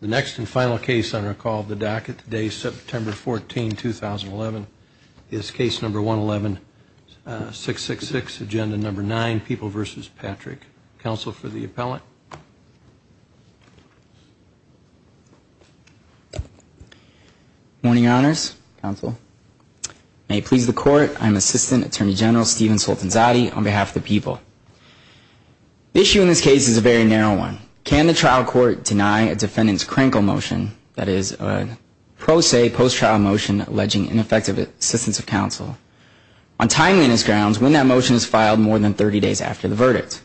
The next and final case on our call of the docket today, September 14, 2011, is case number 111666, agenda number 9, People v. Patrick. Counsel for the appellant. Morning, Your Honors. Counsel. May it please the Court, I'm Assistant Attorney General Stephen Soltanzati on behalf of the People. The issue in this case is a very narrow one. Can the trial court deny a defendant's crankle motion, that is, a pro se post-trial motion alleging ineffective assistance of counsel, on timeliness grounds when that motion is filed more than 30 days after the verdict?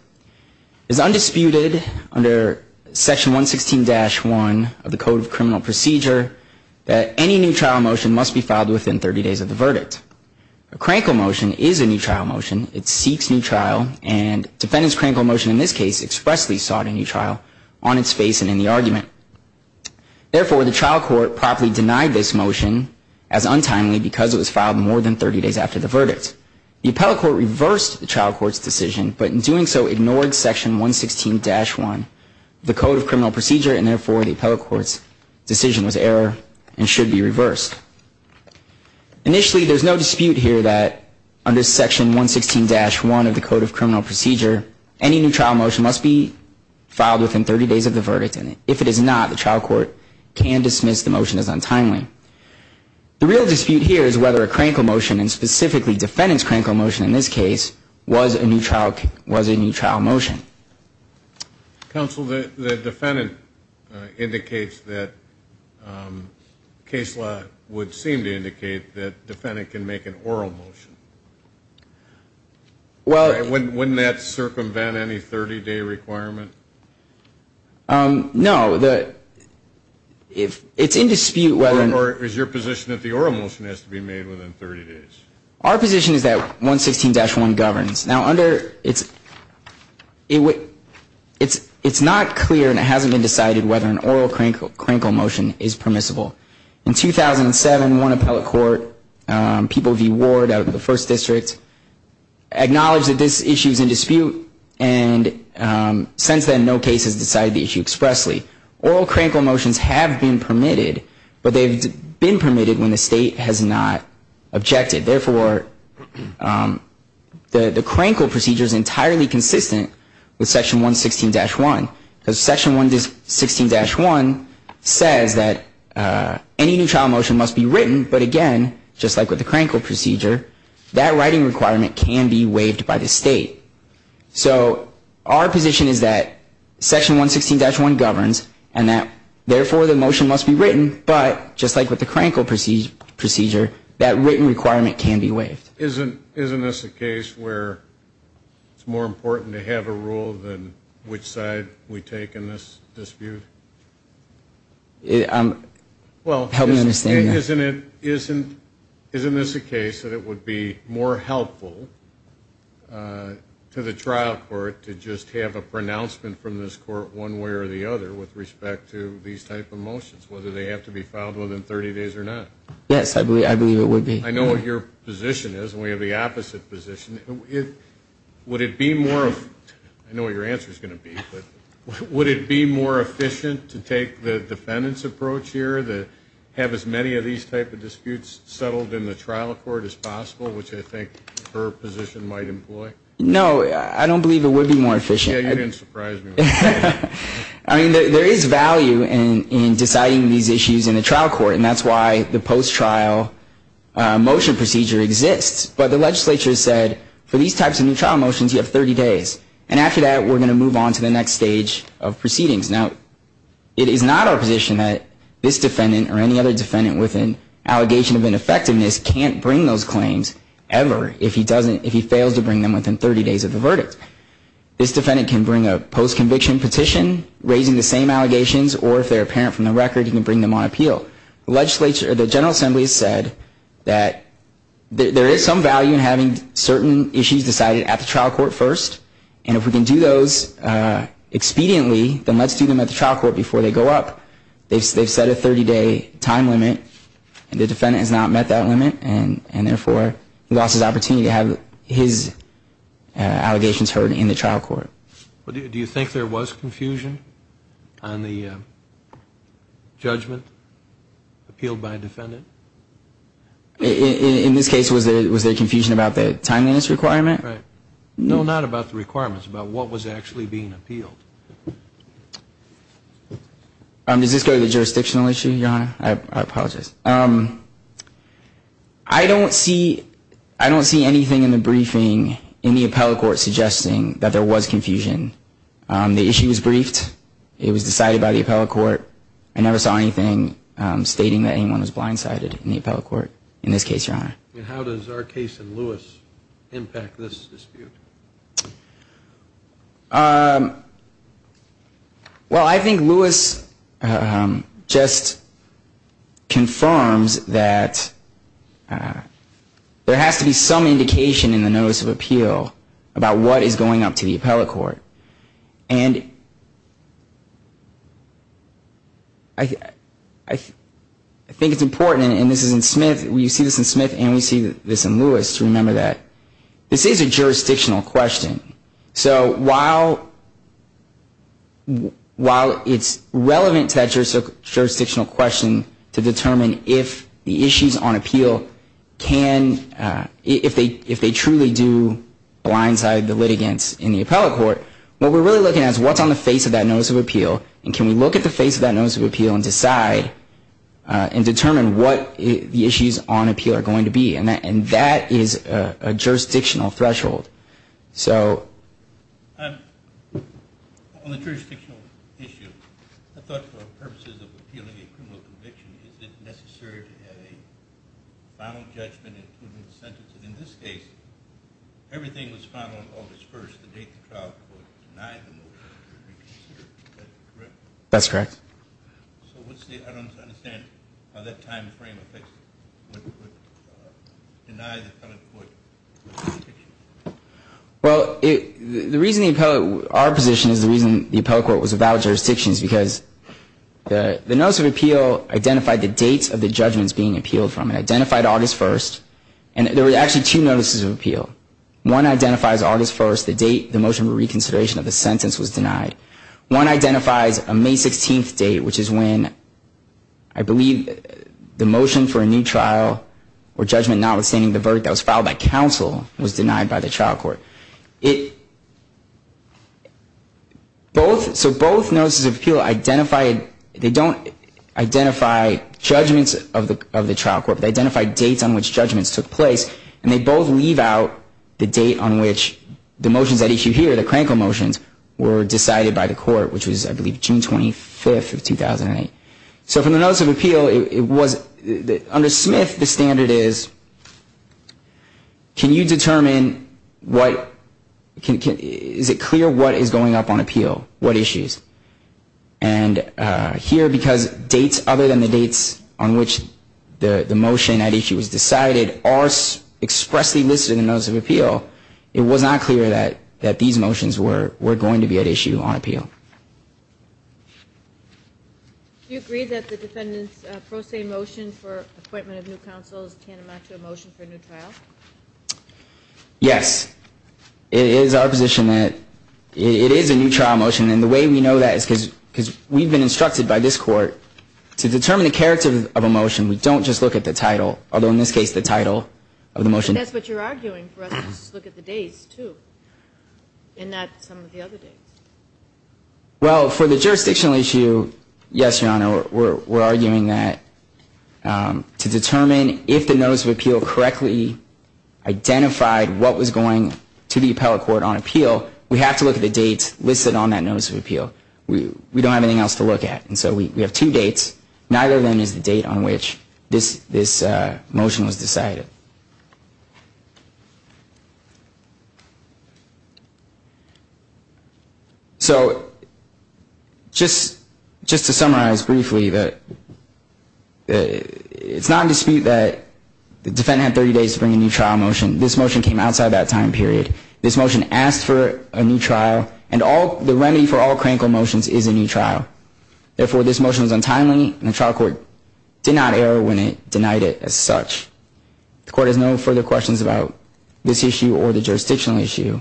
It is undisputed under Section 116-1 of the Code of Criminal Procedure that any new trial motion must be filed within 30 days of the verdict. A crankle motion is a new trial motion. It seeks new trial, and defendant's crankle motion in this case expressly sought a new trial on its face and in the argument. Therefore, the trial court properly denied this motion as untimely because it was filed more than 30 days after the verdict. The appellate court reversed the trial court's decision, but in doing so ignored Section 116-1 of the Code of Criminal Procedure, and therefore the appellate court's decision was error and should be reversed. Initially, there is no dispute here that under Section 116-1 of the Code of Criminal Procedure, any new trial motion must be filed within 30 days of the verdict, and if it is not, the trial court can dismiss the motion as untimely. The real dispute here is whether a crankle motion, and specifically defendant's crankle motion in this case, was a new trial motion. Counsel, the defendant indicates that, um, case law would seem to indicate that defendant can make an oral motion. Well... Wouldn't that circumvent any 30-day requirement? Um, no, the, if, it's in dispute whether... Or is your position that the oral motion has to be made within 30 days? Our position is that 116-1 governs. Now, under, it's, it would, it's, it's not clear and it hasn't been decided whether an oral crankle motion is permissible. In 2007, one appellate court, um, People v. Ward out of the First District, acknowledged that this issue is in dispute, and, um, since then, no case has decided the issue expressly. Oral crankle motions have been permitted, but they've been permitted when the State has not objected. Therefore, um, the, the crankle procedure is entirely consistent with Section 116-1. Because Section 116-1 says that, uh, any new trial motion must be written, but again, just like with the crankle procedure, that writing requirement can be waived by the State. So, our position is that Section 116-1 governs, and that, therefore, the motion must be written, but, just like with the crankle procedure, that written requirement can be waived. Isn't, isn't this a case where it's more important to have a rule than which side we take in this dispute? It, um, help me understand that. Isn't it, isn't, isn't this a case that it would be more helpful, uh, to the trial court to just have a pronouncement from this court one way or the other with respect to these type of motions, whether they have to be filed within 30 days or not? Yes, I believe, I believe it would be. I know what your position is, and we have the opposite position. Would it be more, I know what your answer is going to be, but would it be more efficient to take the defendant's approach here, to have as many of these type of disputes settled in the trial court as possible, which I think her position might employ? No, I don't believe it would be more efficient. Yeah, you didn't surprise me with that. I mean, there, there is value in, in deciding these issues in the trial court, and that's why the post-trial, uh, motion procedure exists. But the legislature said, for these types of new trial motions, you have 30 days. And after that, we're going to move on to the next stage of proceedings. Now, it is not our position that this defendant or any other defendant with an allegation of ineffectiveness can't bring those claims, ever, if he doesn't, if he fails to bring them within 30 days of the verdict. This defendant can bring a post-conviction petition, raising the same allegations, or if they're apparent from the record, he can bring them on appeal. The legislature, the General Assembly has said that there, there is some value in having certain issues decided at the trial court first. And if we can do those, uh, expediently, then let's do them at the trial court before they go up. They've, they've set a 30-day time limit, and the defendant has not met that limit, and, and therefore, he lost his opportunity to have his, uh, allegations heard in the trial court. Do you, do you think there was confusion on the, uh, judgment appealed by a defendant? In, in, in this case, was there, was there confusion about the timeliness requirement? Right. No, not about the requirements, about what was actually being appealed. Um, does this go to the jurisdictional issue, Your Honor? I, I apologize. Um, I don't see, I don't see anything in the briefing in the appellate court suggesting that there was confusion. Um, the issue was briefed. It was decided by the appellate court. I never saw anything, um, stating that anyone was blindsided in the appellate court, in this case, Your Honor. And how does our case in Lewis impact this dispute? Um, well, I think Lewis, um, just confirms that, uh, there has to be some indication in the notice of appeal about what is going up to the appellate court. And I, I, I think it's important, and this is in Smith, we see this in Smith and we see this in Lewis to remember that this is a jurisdictional question. So while, while it's relevant to that jurisdictional question to determine if the issues on appeal can, uh, if they, if they truly do blindside the appellate court, what we're really looking at is what's on the face of that notice of appeal, and can we look at the face of that notice of appeal and decide, uh, and determine what the issues on appeal are going to be. And that, and that is a jurisdictional threshold. So, um, on the jurisdictional issue, I thought for purposes of appealing a criminal conviction, is it necessary to have a final judgment including the sentence? And in this case, everything was final on August 1st, the date the trial was denied the motion. Is that correct? That's correct. So what's the, I don't understand how that time frame would, would, uh, deny the appellate court jurisdiction. Well, it, the reason the appellate, our position is the reason the appellate court was without jurisdiction is because the, the notice of appeal identified the dates of the judgments being appealed from it, identified August 1st, and there were actually two notices of appeal. One identifies August 1st, the date the motion of reconsideration of the sentence was denied. One identifies a May 16th date, which is when I believe the motion for a new trial or judgment notwithstanding the verdict that was filed by counsel was denied by the trial court. It, both, so both notices of appeal identified, they don't identify judgments of the, of the trial court. They identify dates on which judgments took place, and they both leave out the date on which the motions at issue here, the Kranko motions, were decided by the court, which was, I believe, June 25th of 2008. So from the notice of appeal, it was, under Smith, the standard is, can you determine what, can, is it clear what is going up on appeal? What issues? And here, because dates other than the dates on which the, the motion at issue was decided are expressly listed in the notice of appeal, it was not clear that, that these motions were, were going to be at issue on appeal. Do you agree that the defendant's pro se motion for acquitment of new counsel is tantamount to a motion for a new trial? Yes. It is our position that it is a new trial motion, and the way we know that is because, because we've been instructed by this court to determine the character of a motion. We don't just look at the title, although in this case, the title of the motion. But that's what you're arguing for us to look at the dates, too, and not some of the other dates. Well, for the jurisdictional issue, yes, Your Honor, we're, we're arguing that to determine if the notice of appeal correctly identified what was going to the appellate court on appeal, we have to look at the dates listed on that notice of appeal. We, we don't have anything else to look at, and so we, we have two dates, neither of them is the date on which this, this motion was decided. So, just, just to summarize briefly that it's not in dispute that the defendant had 30 days to bring a new trial motion. This motion came outside that time period. This motion asked for a new trial, and all, the remedy for all crankle motions is a new trial. Therefore, this motion is untimely, and the trial court did not err when it denied it as such. The court has no further questions about this issue or the jurisdictional issue.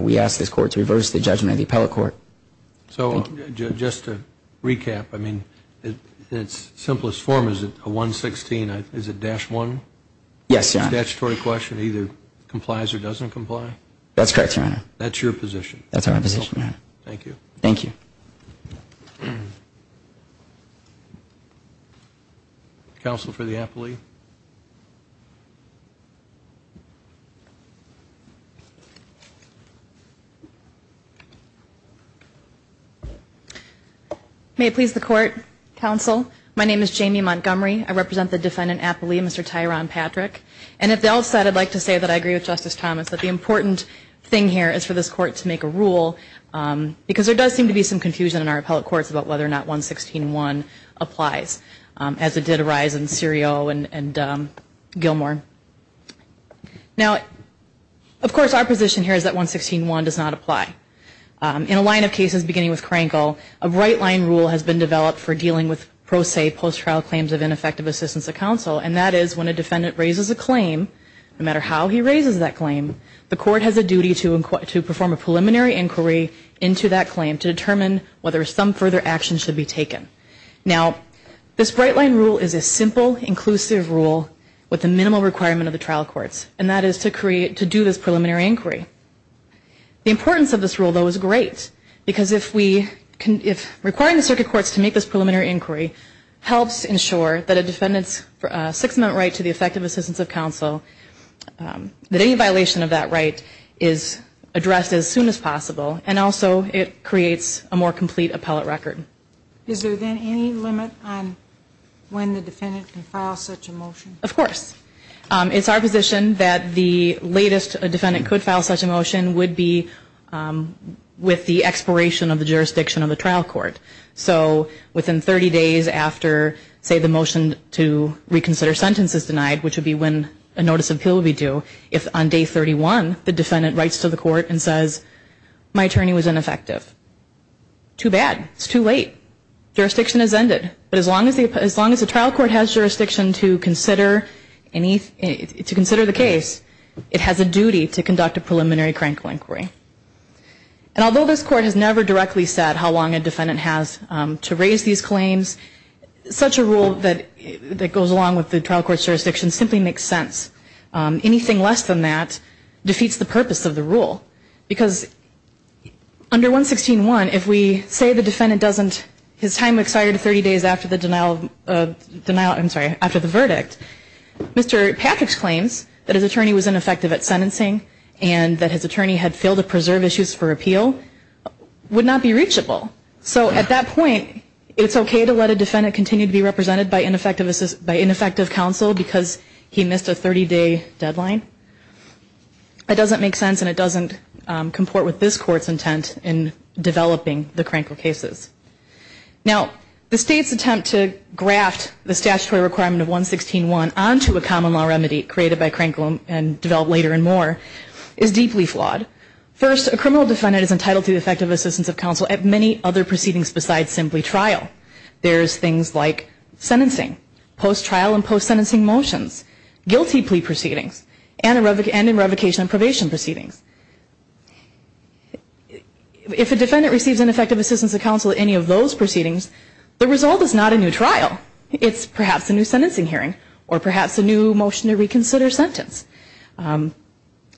We ask this court to reverse the judgment of the appellate court. So, just to recap, I mean, in its simplest form, is it a 116, is it dash one? Yes, Your Honor. It's a statutory question, either complies or doesn't comply? That's correct, Your Honor. That's your position? That's our position, Your Honor. Thank you. Counsel for the appellee. May it please the court, counsel, my name is Jamie Montgomery. I represent the defendant appellee, Mr. Tyron Patrick, and at the outset, I'd like to say that I agree with Justice Thomas, that the important thing here is for this court to make a rule, because there does seem to be some confusion in our appellate courts about whether or not 116-1 applies, as it did arise in Serio and Gilmore. Now, of course, our position here is that 116-1 does not apply. In a line of cases beginning with Krenkel, a right-line rule has been developed for dealing with, pro se, post-trial claims of ineffective assistance of counsel, and that is when a defendant raises a claim, no matter how he raises that claim, the court has a duty to perform a preliminary inquiry into that claim to determine whether some further action should be taken. Now, this right-line rule is a simple, inclusive rule with the minimal requirement of the trial courts, and that is to do this preliminary inquiry. The importance of this rule, though, is great, because if requiring the circuit courts to make this preliminary inquiry helps ensure that a defendant's six-amendment right to the effective assistance of counsel, that any violation of that right is addressed as soon as possible, and also it creates a more complete appellate record. Is there then any limit on when the defendant can file such a motion? Of course. It's our position that the latest a defendant could file such a motion would be with the expiration of the jurisdiction of the trial court. So within 30 days after, say, the motion to reconsider sentence is denied, which would be when a notice of appeal would be due, if on day 31 the defendant writes to the court and says, my attorney was ineffective. Too bad. It's too late. Jurisdiction has ended. But as long as the trial court has jurisdiction to consider the case, it has a duty to conduct a preliminary criminal inquiry. And although this Court has never directly said how long a defendant has to raise these claims, such a rule that goes along with the trial court's jurisdiction simply makes sense. Anything less than that defeats the purpose of the rule, because under 116.1, if we say the defendant doesn't, his time expired 30 days after the denial of, I'm sorry, after the verdict, Mr. Patrick's claims that his attorney was ineffective at sentencing and that his attorney had failed to preserve issues for appeal, would not be reachable. So at that point, it's okay to let a defendant continue to be represented by ineffective counsel because he missed a 30-day deadline. That doesn't make sense, and it doesn't comport with this Court's intent in developing the Crankville cases. Now, the State's attempt to graft the statutory requirement of 116.1 onto a common law remedy created by Crankville and developed later and more is deeply flawed. First, a criminal defendant is entitled to effective assistance of counsel at many other proceedings besides simply trial. There's things like sentencing, post-trial and post-sentencing motions, guilty plea proceedings, and in revocation and probation proceedings. If a defendant receives ineffective assistance of counsel at any of those proceedings, the result is not a new trial. It's perhaps a new sentencing hearing or perhaps a new motion to reconsider sentence.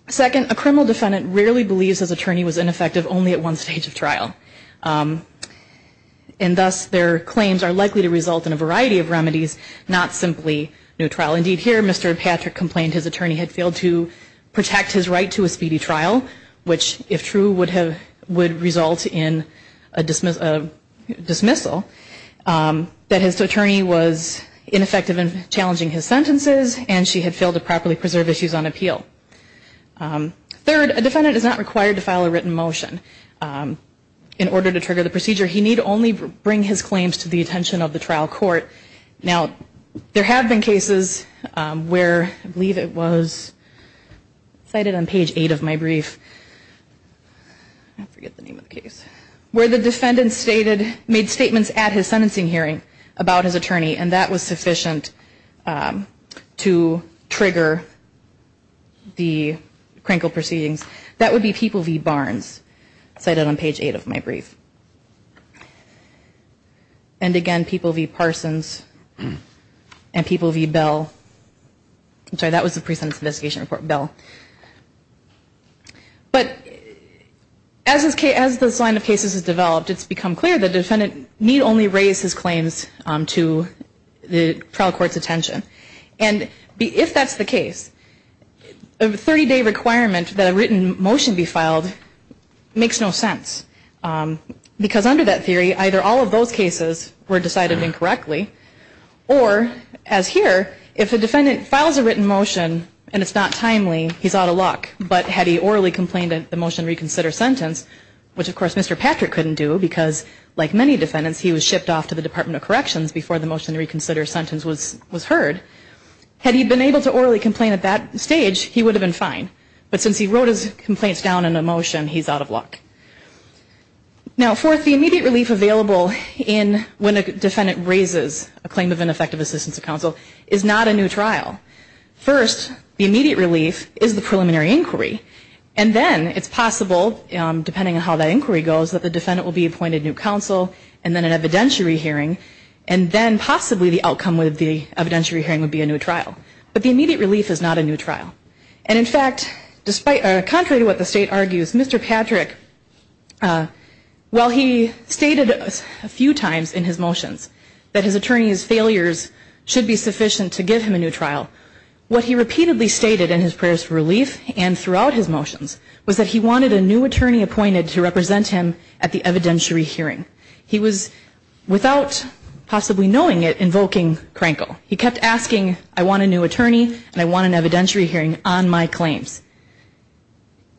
Second, a criminal defendant rarely believes his attorney was ineffective only at one stage of trial. And thus, their claims are likely to result in a variety of remedies, not simply new trial. Indeed, here, Mr. Patrick complained his attorney had failed to protect his right to a speedy trial, which, if true, would result in a dismissal. That his attorney was ineffective in challenging his sentences and she had failed to properly preserve issues on appeal. Third, a defendant is not required to file a written motion. In order to trigger the procedure, he need only bring his claims to the attention of the trial court. Now, there have been cases where, I believe it was cited on page 8 of my brief, where the defendant made statements at his sentencing hearing about his attorney, and that was sufficient to trigger the Krinkle proceedings. That would be People v. Barnes, cited on page 8 of my brief. And again, People v. Parsons, and People v. Bell. I'm sorry, that was the pre-sentence investigation report, Bell. But as this line of cases has developed, it's become clear the defendant need only raise his claims to the trial court's attention. And if that's the case, a 30-day requirement that a written motion be filed makes no sense. Because under that theory, either all of those cases were decided incorrectly, or, as here, if a defendant files a written motion and it's not timely, he's out of luck. But had he orally complained at the motion to reconsider sentence, which, of course, Mr. Patrick couldn't do because, like many defendants, he was shipped off to the Department of Corrections before the motion to reconsider sentence was heard. Had he been able to orally complain at that stage, he would have been fine. But since he wrote his complaints down in a motion, he's out of luck. Now, fourth, the immediate relief available when a defendant raises a claim of ineffective assistance to counsel is not a new trial. First, the immediate relief is the preliminary inquiry. And then it's possible, depending on how that inquiry goes, that the defendant will be appointed new counsel, and then an evidentiary hearing, and then possibly the outcome of the evidentiary hearing would be a new trial. But the immediate relief is not a new trial. And, in fact, contrary to what the State argues, Mr. Patrick, while he stated a few times in his motions that his attorney's failures should be sufficient to give him a new trial, what he repeatedly stated in his prayers for relief and throughout his motions was that he wanted a new attorney appointed to represent him at the evidentiary hearing. He was, without possibly knowing it, invoking Krenkel. He kept asking, I want a new attorney and I want an evidentiary hearing on my claims.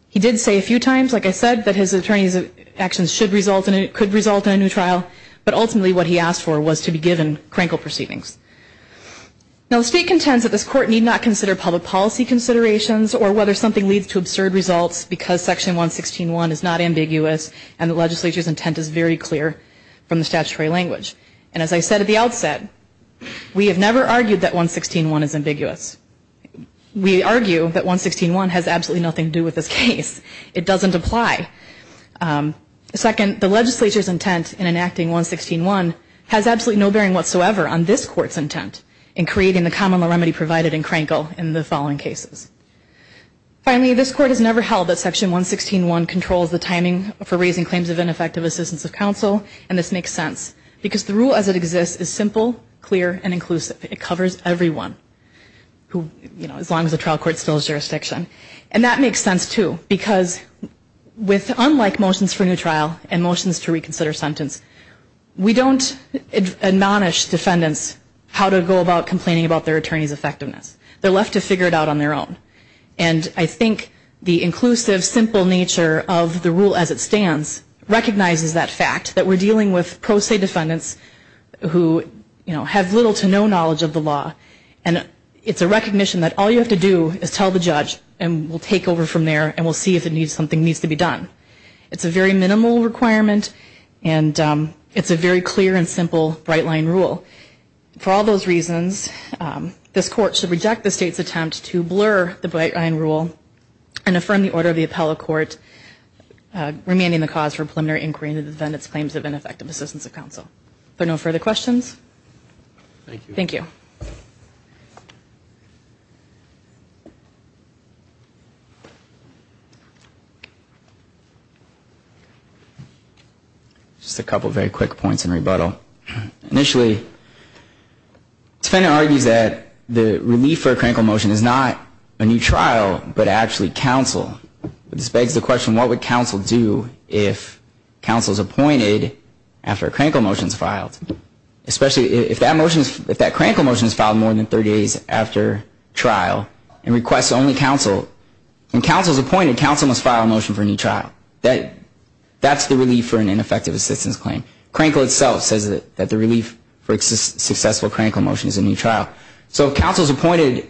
He did say a few times, like I said, that his attorney's actions should result in a new trial, but ultimately what he asked for was to be given Krenkel proceedings. Now, the State contends that this Court need not consider public policy considerations or whether something leads to absurd results because Section 116.1 is not ambiguous and the Legislature's intent is very clear. And as I said at the outset, we have never argued that 116.1 is ambiguous. We argue that 116.1 has absolutely nothing to do with this case. It doesn't apply. Second, the Legislature's intent in enacting 116.1 has absolutely no bearing whatsoever on this Court's intent in creating the common law remedy provided in Krenkel in the following cases. Finally, this Court has never held that Section 116.1 controls the timing for raising claims of ineffective assistance of counsel, and this makes sense. Because the rule as it exists is simple, clear, and inclusive. It covers everyone, as long as the trial court still has jurisdiction. And that makes sense, too, because unlike motions for new trial and motions to reconsider sentence, we don't admonish defendants how to go about complaining about their attorney's effectiveness. They're left to figure it out on their own. And I think the inclusive, simple nature of the rule as it stands recognizes that fact, that we're dealing with pro se defendants who have little to no knowledge of the law. And it's a recognition that all you have to do is tell the judge and we'll take over from there and we'll see if something needs to be done. It's a very minimal requirement, and it's a very clear and simple right-line rule. For all those reasons, this Court should reject the State's attempt to blur the right-line rule and affirm the order of the appellate court, remanding the cause for preliminary inquiry into the defendant's claims of ineffective assistance of counsel. Are there no further questions? Thank you. Thank you. Just a couple of very quick points in rebuttal. Initially, the defendant argues that the relief for a crankle motion is not a new trial, but actually counsel. This begs the question, what would counsel do if counsel is appointed after a crankle motion is filed? Especially if that crankle motion is filed more than 30 days after trial and requests only counsel. When counsel is appointed, counsel must file a motion for a new trial. That's the relief for an ineffective assistance claim. Crankle itself says that the relief for a successful crankle motion is a new trial. So counsel's appointment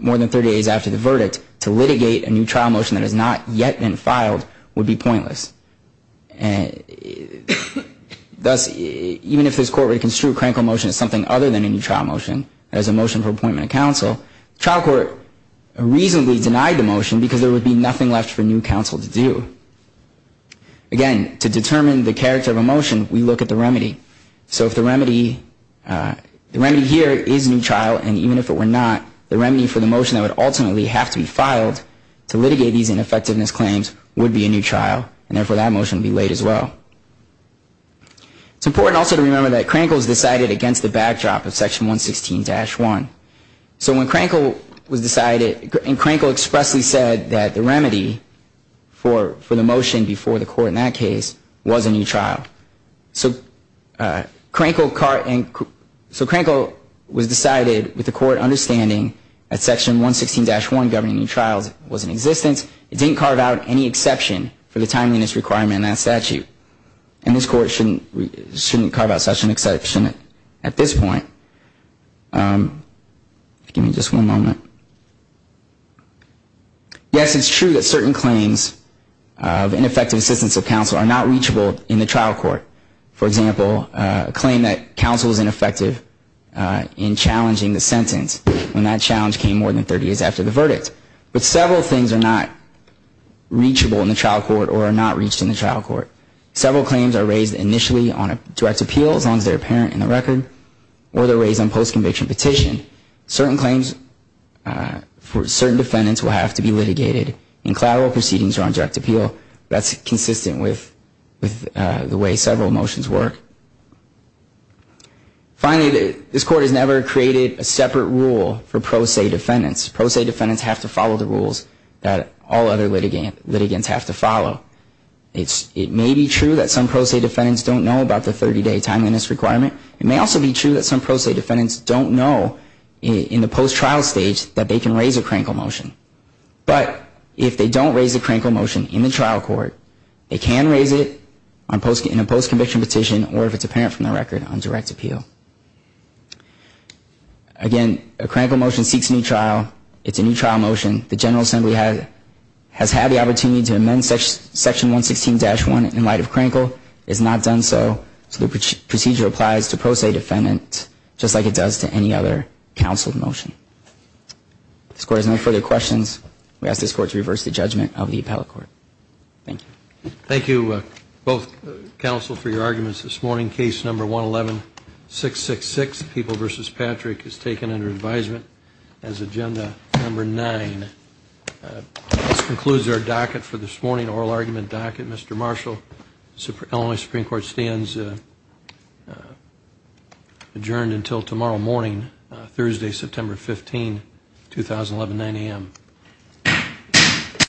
more than 30 days after the verdict to litigate a new trial motion that has not yet been filed would be pointless. Thus, even if this Court were to construe a crankle motion as something other than a new trial motion, as a motion for appointment of counsel, the trial court reasonably denied the motion because there would be nothing left for new counsel to do. Again, to determine the character of a motion, we look at the remedy. So if the remedy here is a new trial, and even if it were not, the remedy for the motion that would ultimately have to be filed to litigate these ineffectiveness claims would be a new trial, and therefore that motion would be laid as well. It's important also to remember that crankle is decided against the backdrop of Section 116-1. So when crankle was decided, and crankle expressly said that the remedy for the motion before the court in that case was a new trial. So crankle was decided with the court understanding that Section 116-1 governing new trials was in existence. It didn't carve out any exception for the timeliness requirement in that statute. And this Court shouldn't carve out such an exception at this point. Give me just one moment. Yes, it's true that certain claims of ineffective assistance of counsel are not reachable in the trial court. For example, a claim that counsel was ineffective in challenging the sentence when that challenge came more than 30 days after the verdict. But several things are not reachable in the trial court or are not reached in the trial court. Several claims are raised initially on a direct appeal, as long as they're apparent in the record, or they're raised on post-conviction petition. Certain claims for certain defendants will have to be litigated, and collateral proceedings are on direct appeal. That's consistent with the way several motions work. Finally, this Court has never created a separate rule for pro se defendants. Pro se defendants have to follow the rules that all other litigants have to follow. It may be true that some pro se defendants don't know about the 30-day timeliness requirement. It may also be true that some pro se defendants don't know in the post-trial stage that they can raise a crankle motion. But if they don't raise a crankle motion in the trial court, they can raise it in a post-conviction petition, or if it's apparent from the record, on direct appeal. Again, a crankle motion seeks a new trial. It's a new trial motion. The General Assembly has had the opportunity to amend Section 116-1 in light of crankle. It has not done so, so the procedure applies to pro se defendants, just like it does to any other counsel motion. If this Court has no further questions, we ask this Court to reverse the judgment of the appellate court. Thank you. Thank you, both counsel, for your arguments this morning. Case No. 111666, People v. Patrick, is taken under advisement as Agenda No. 9. This concludes our docket for this morning, oral argument docket. Mr. Marshall, Illinois Supreme Court stands adjourned until tomorrow morning, Thursday, September 15, 2011, 9 a.m.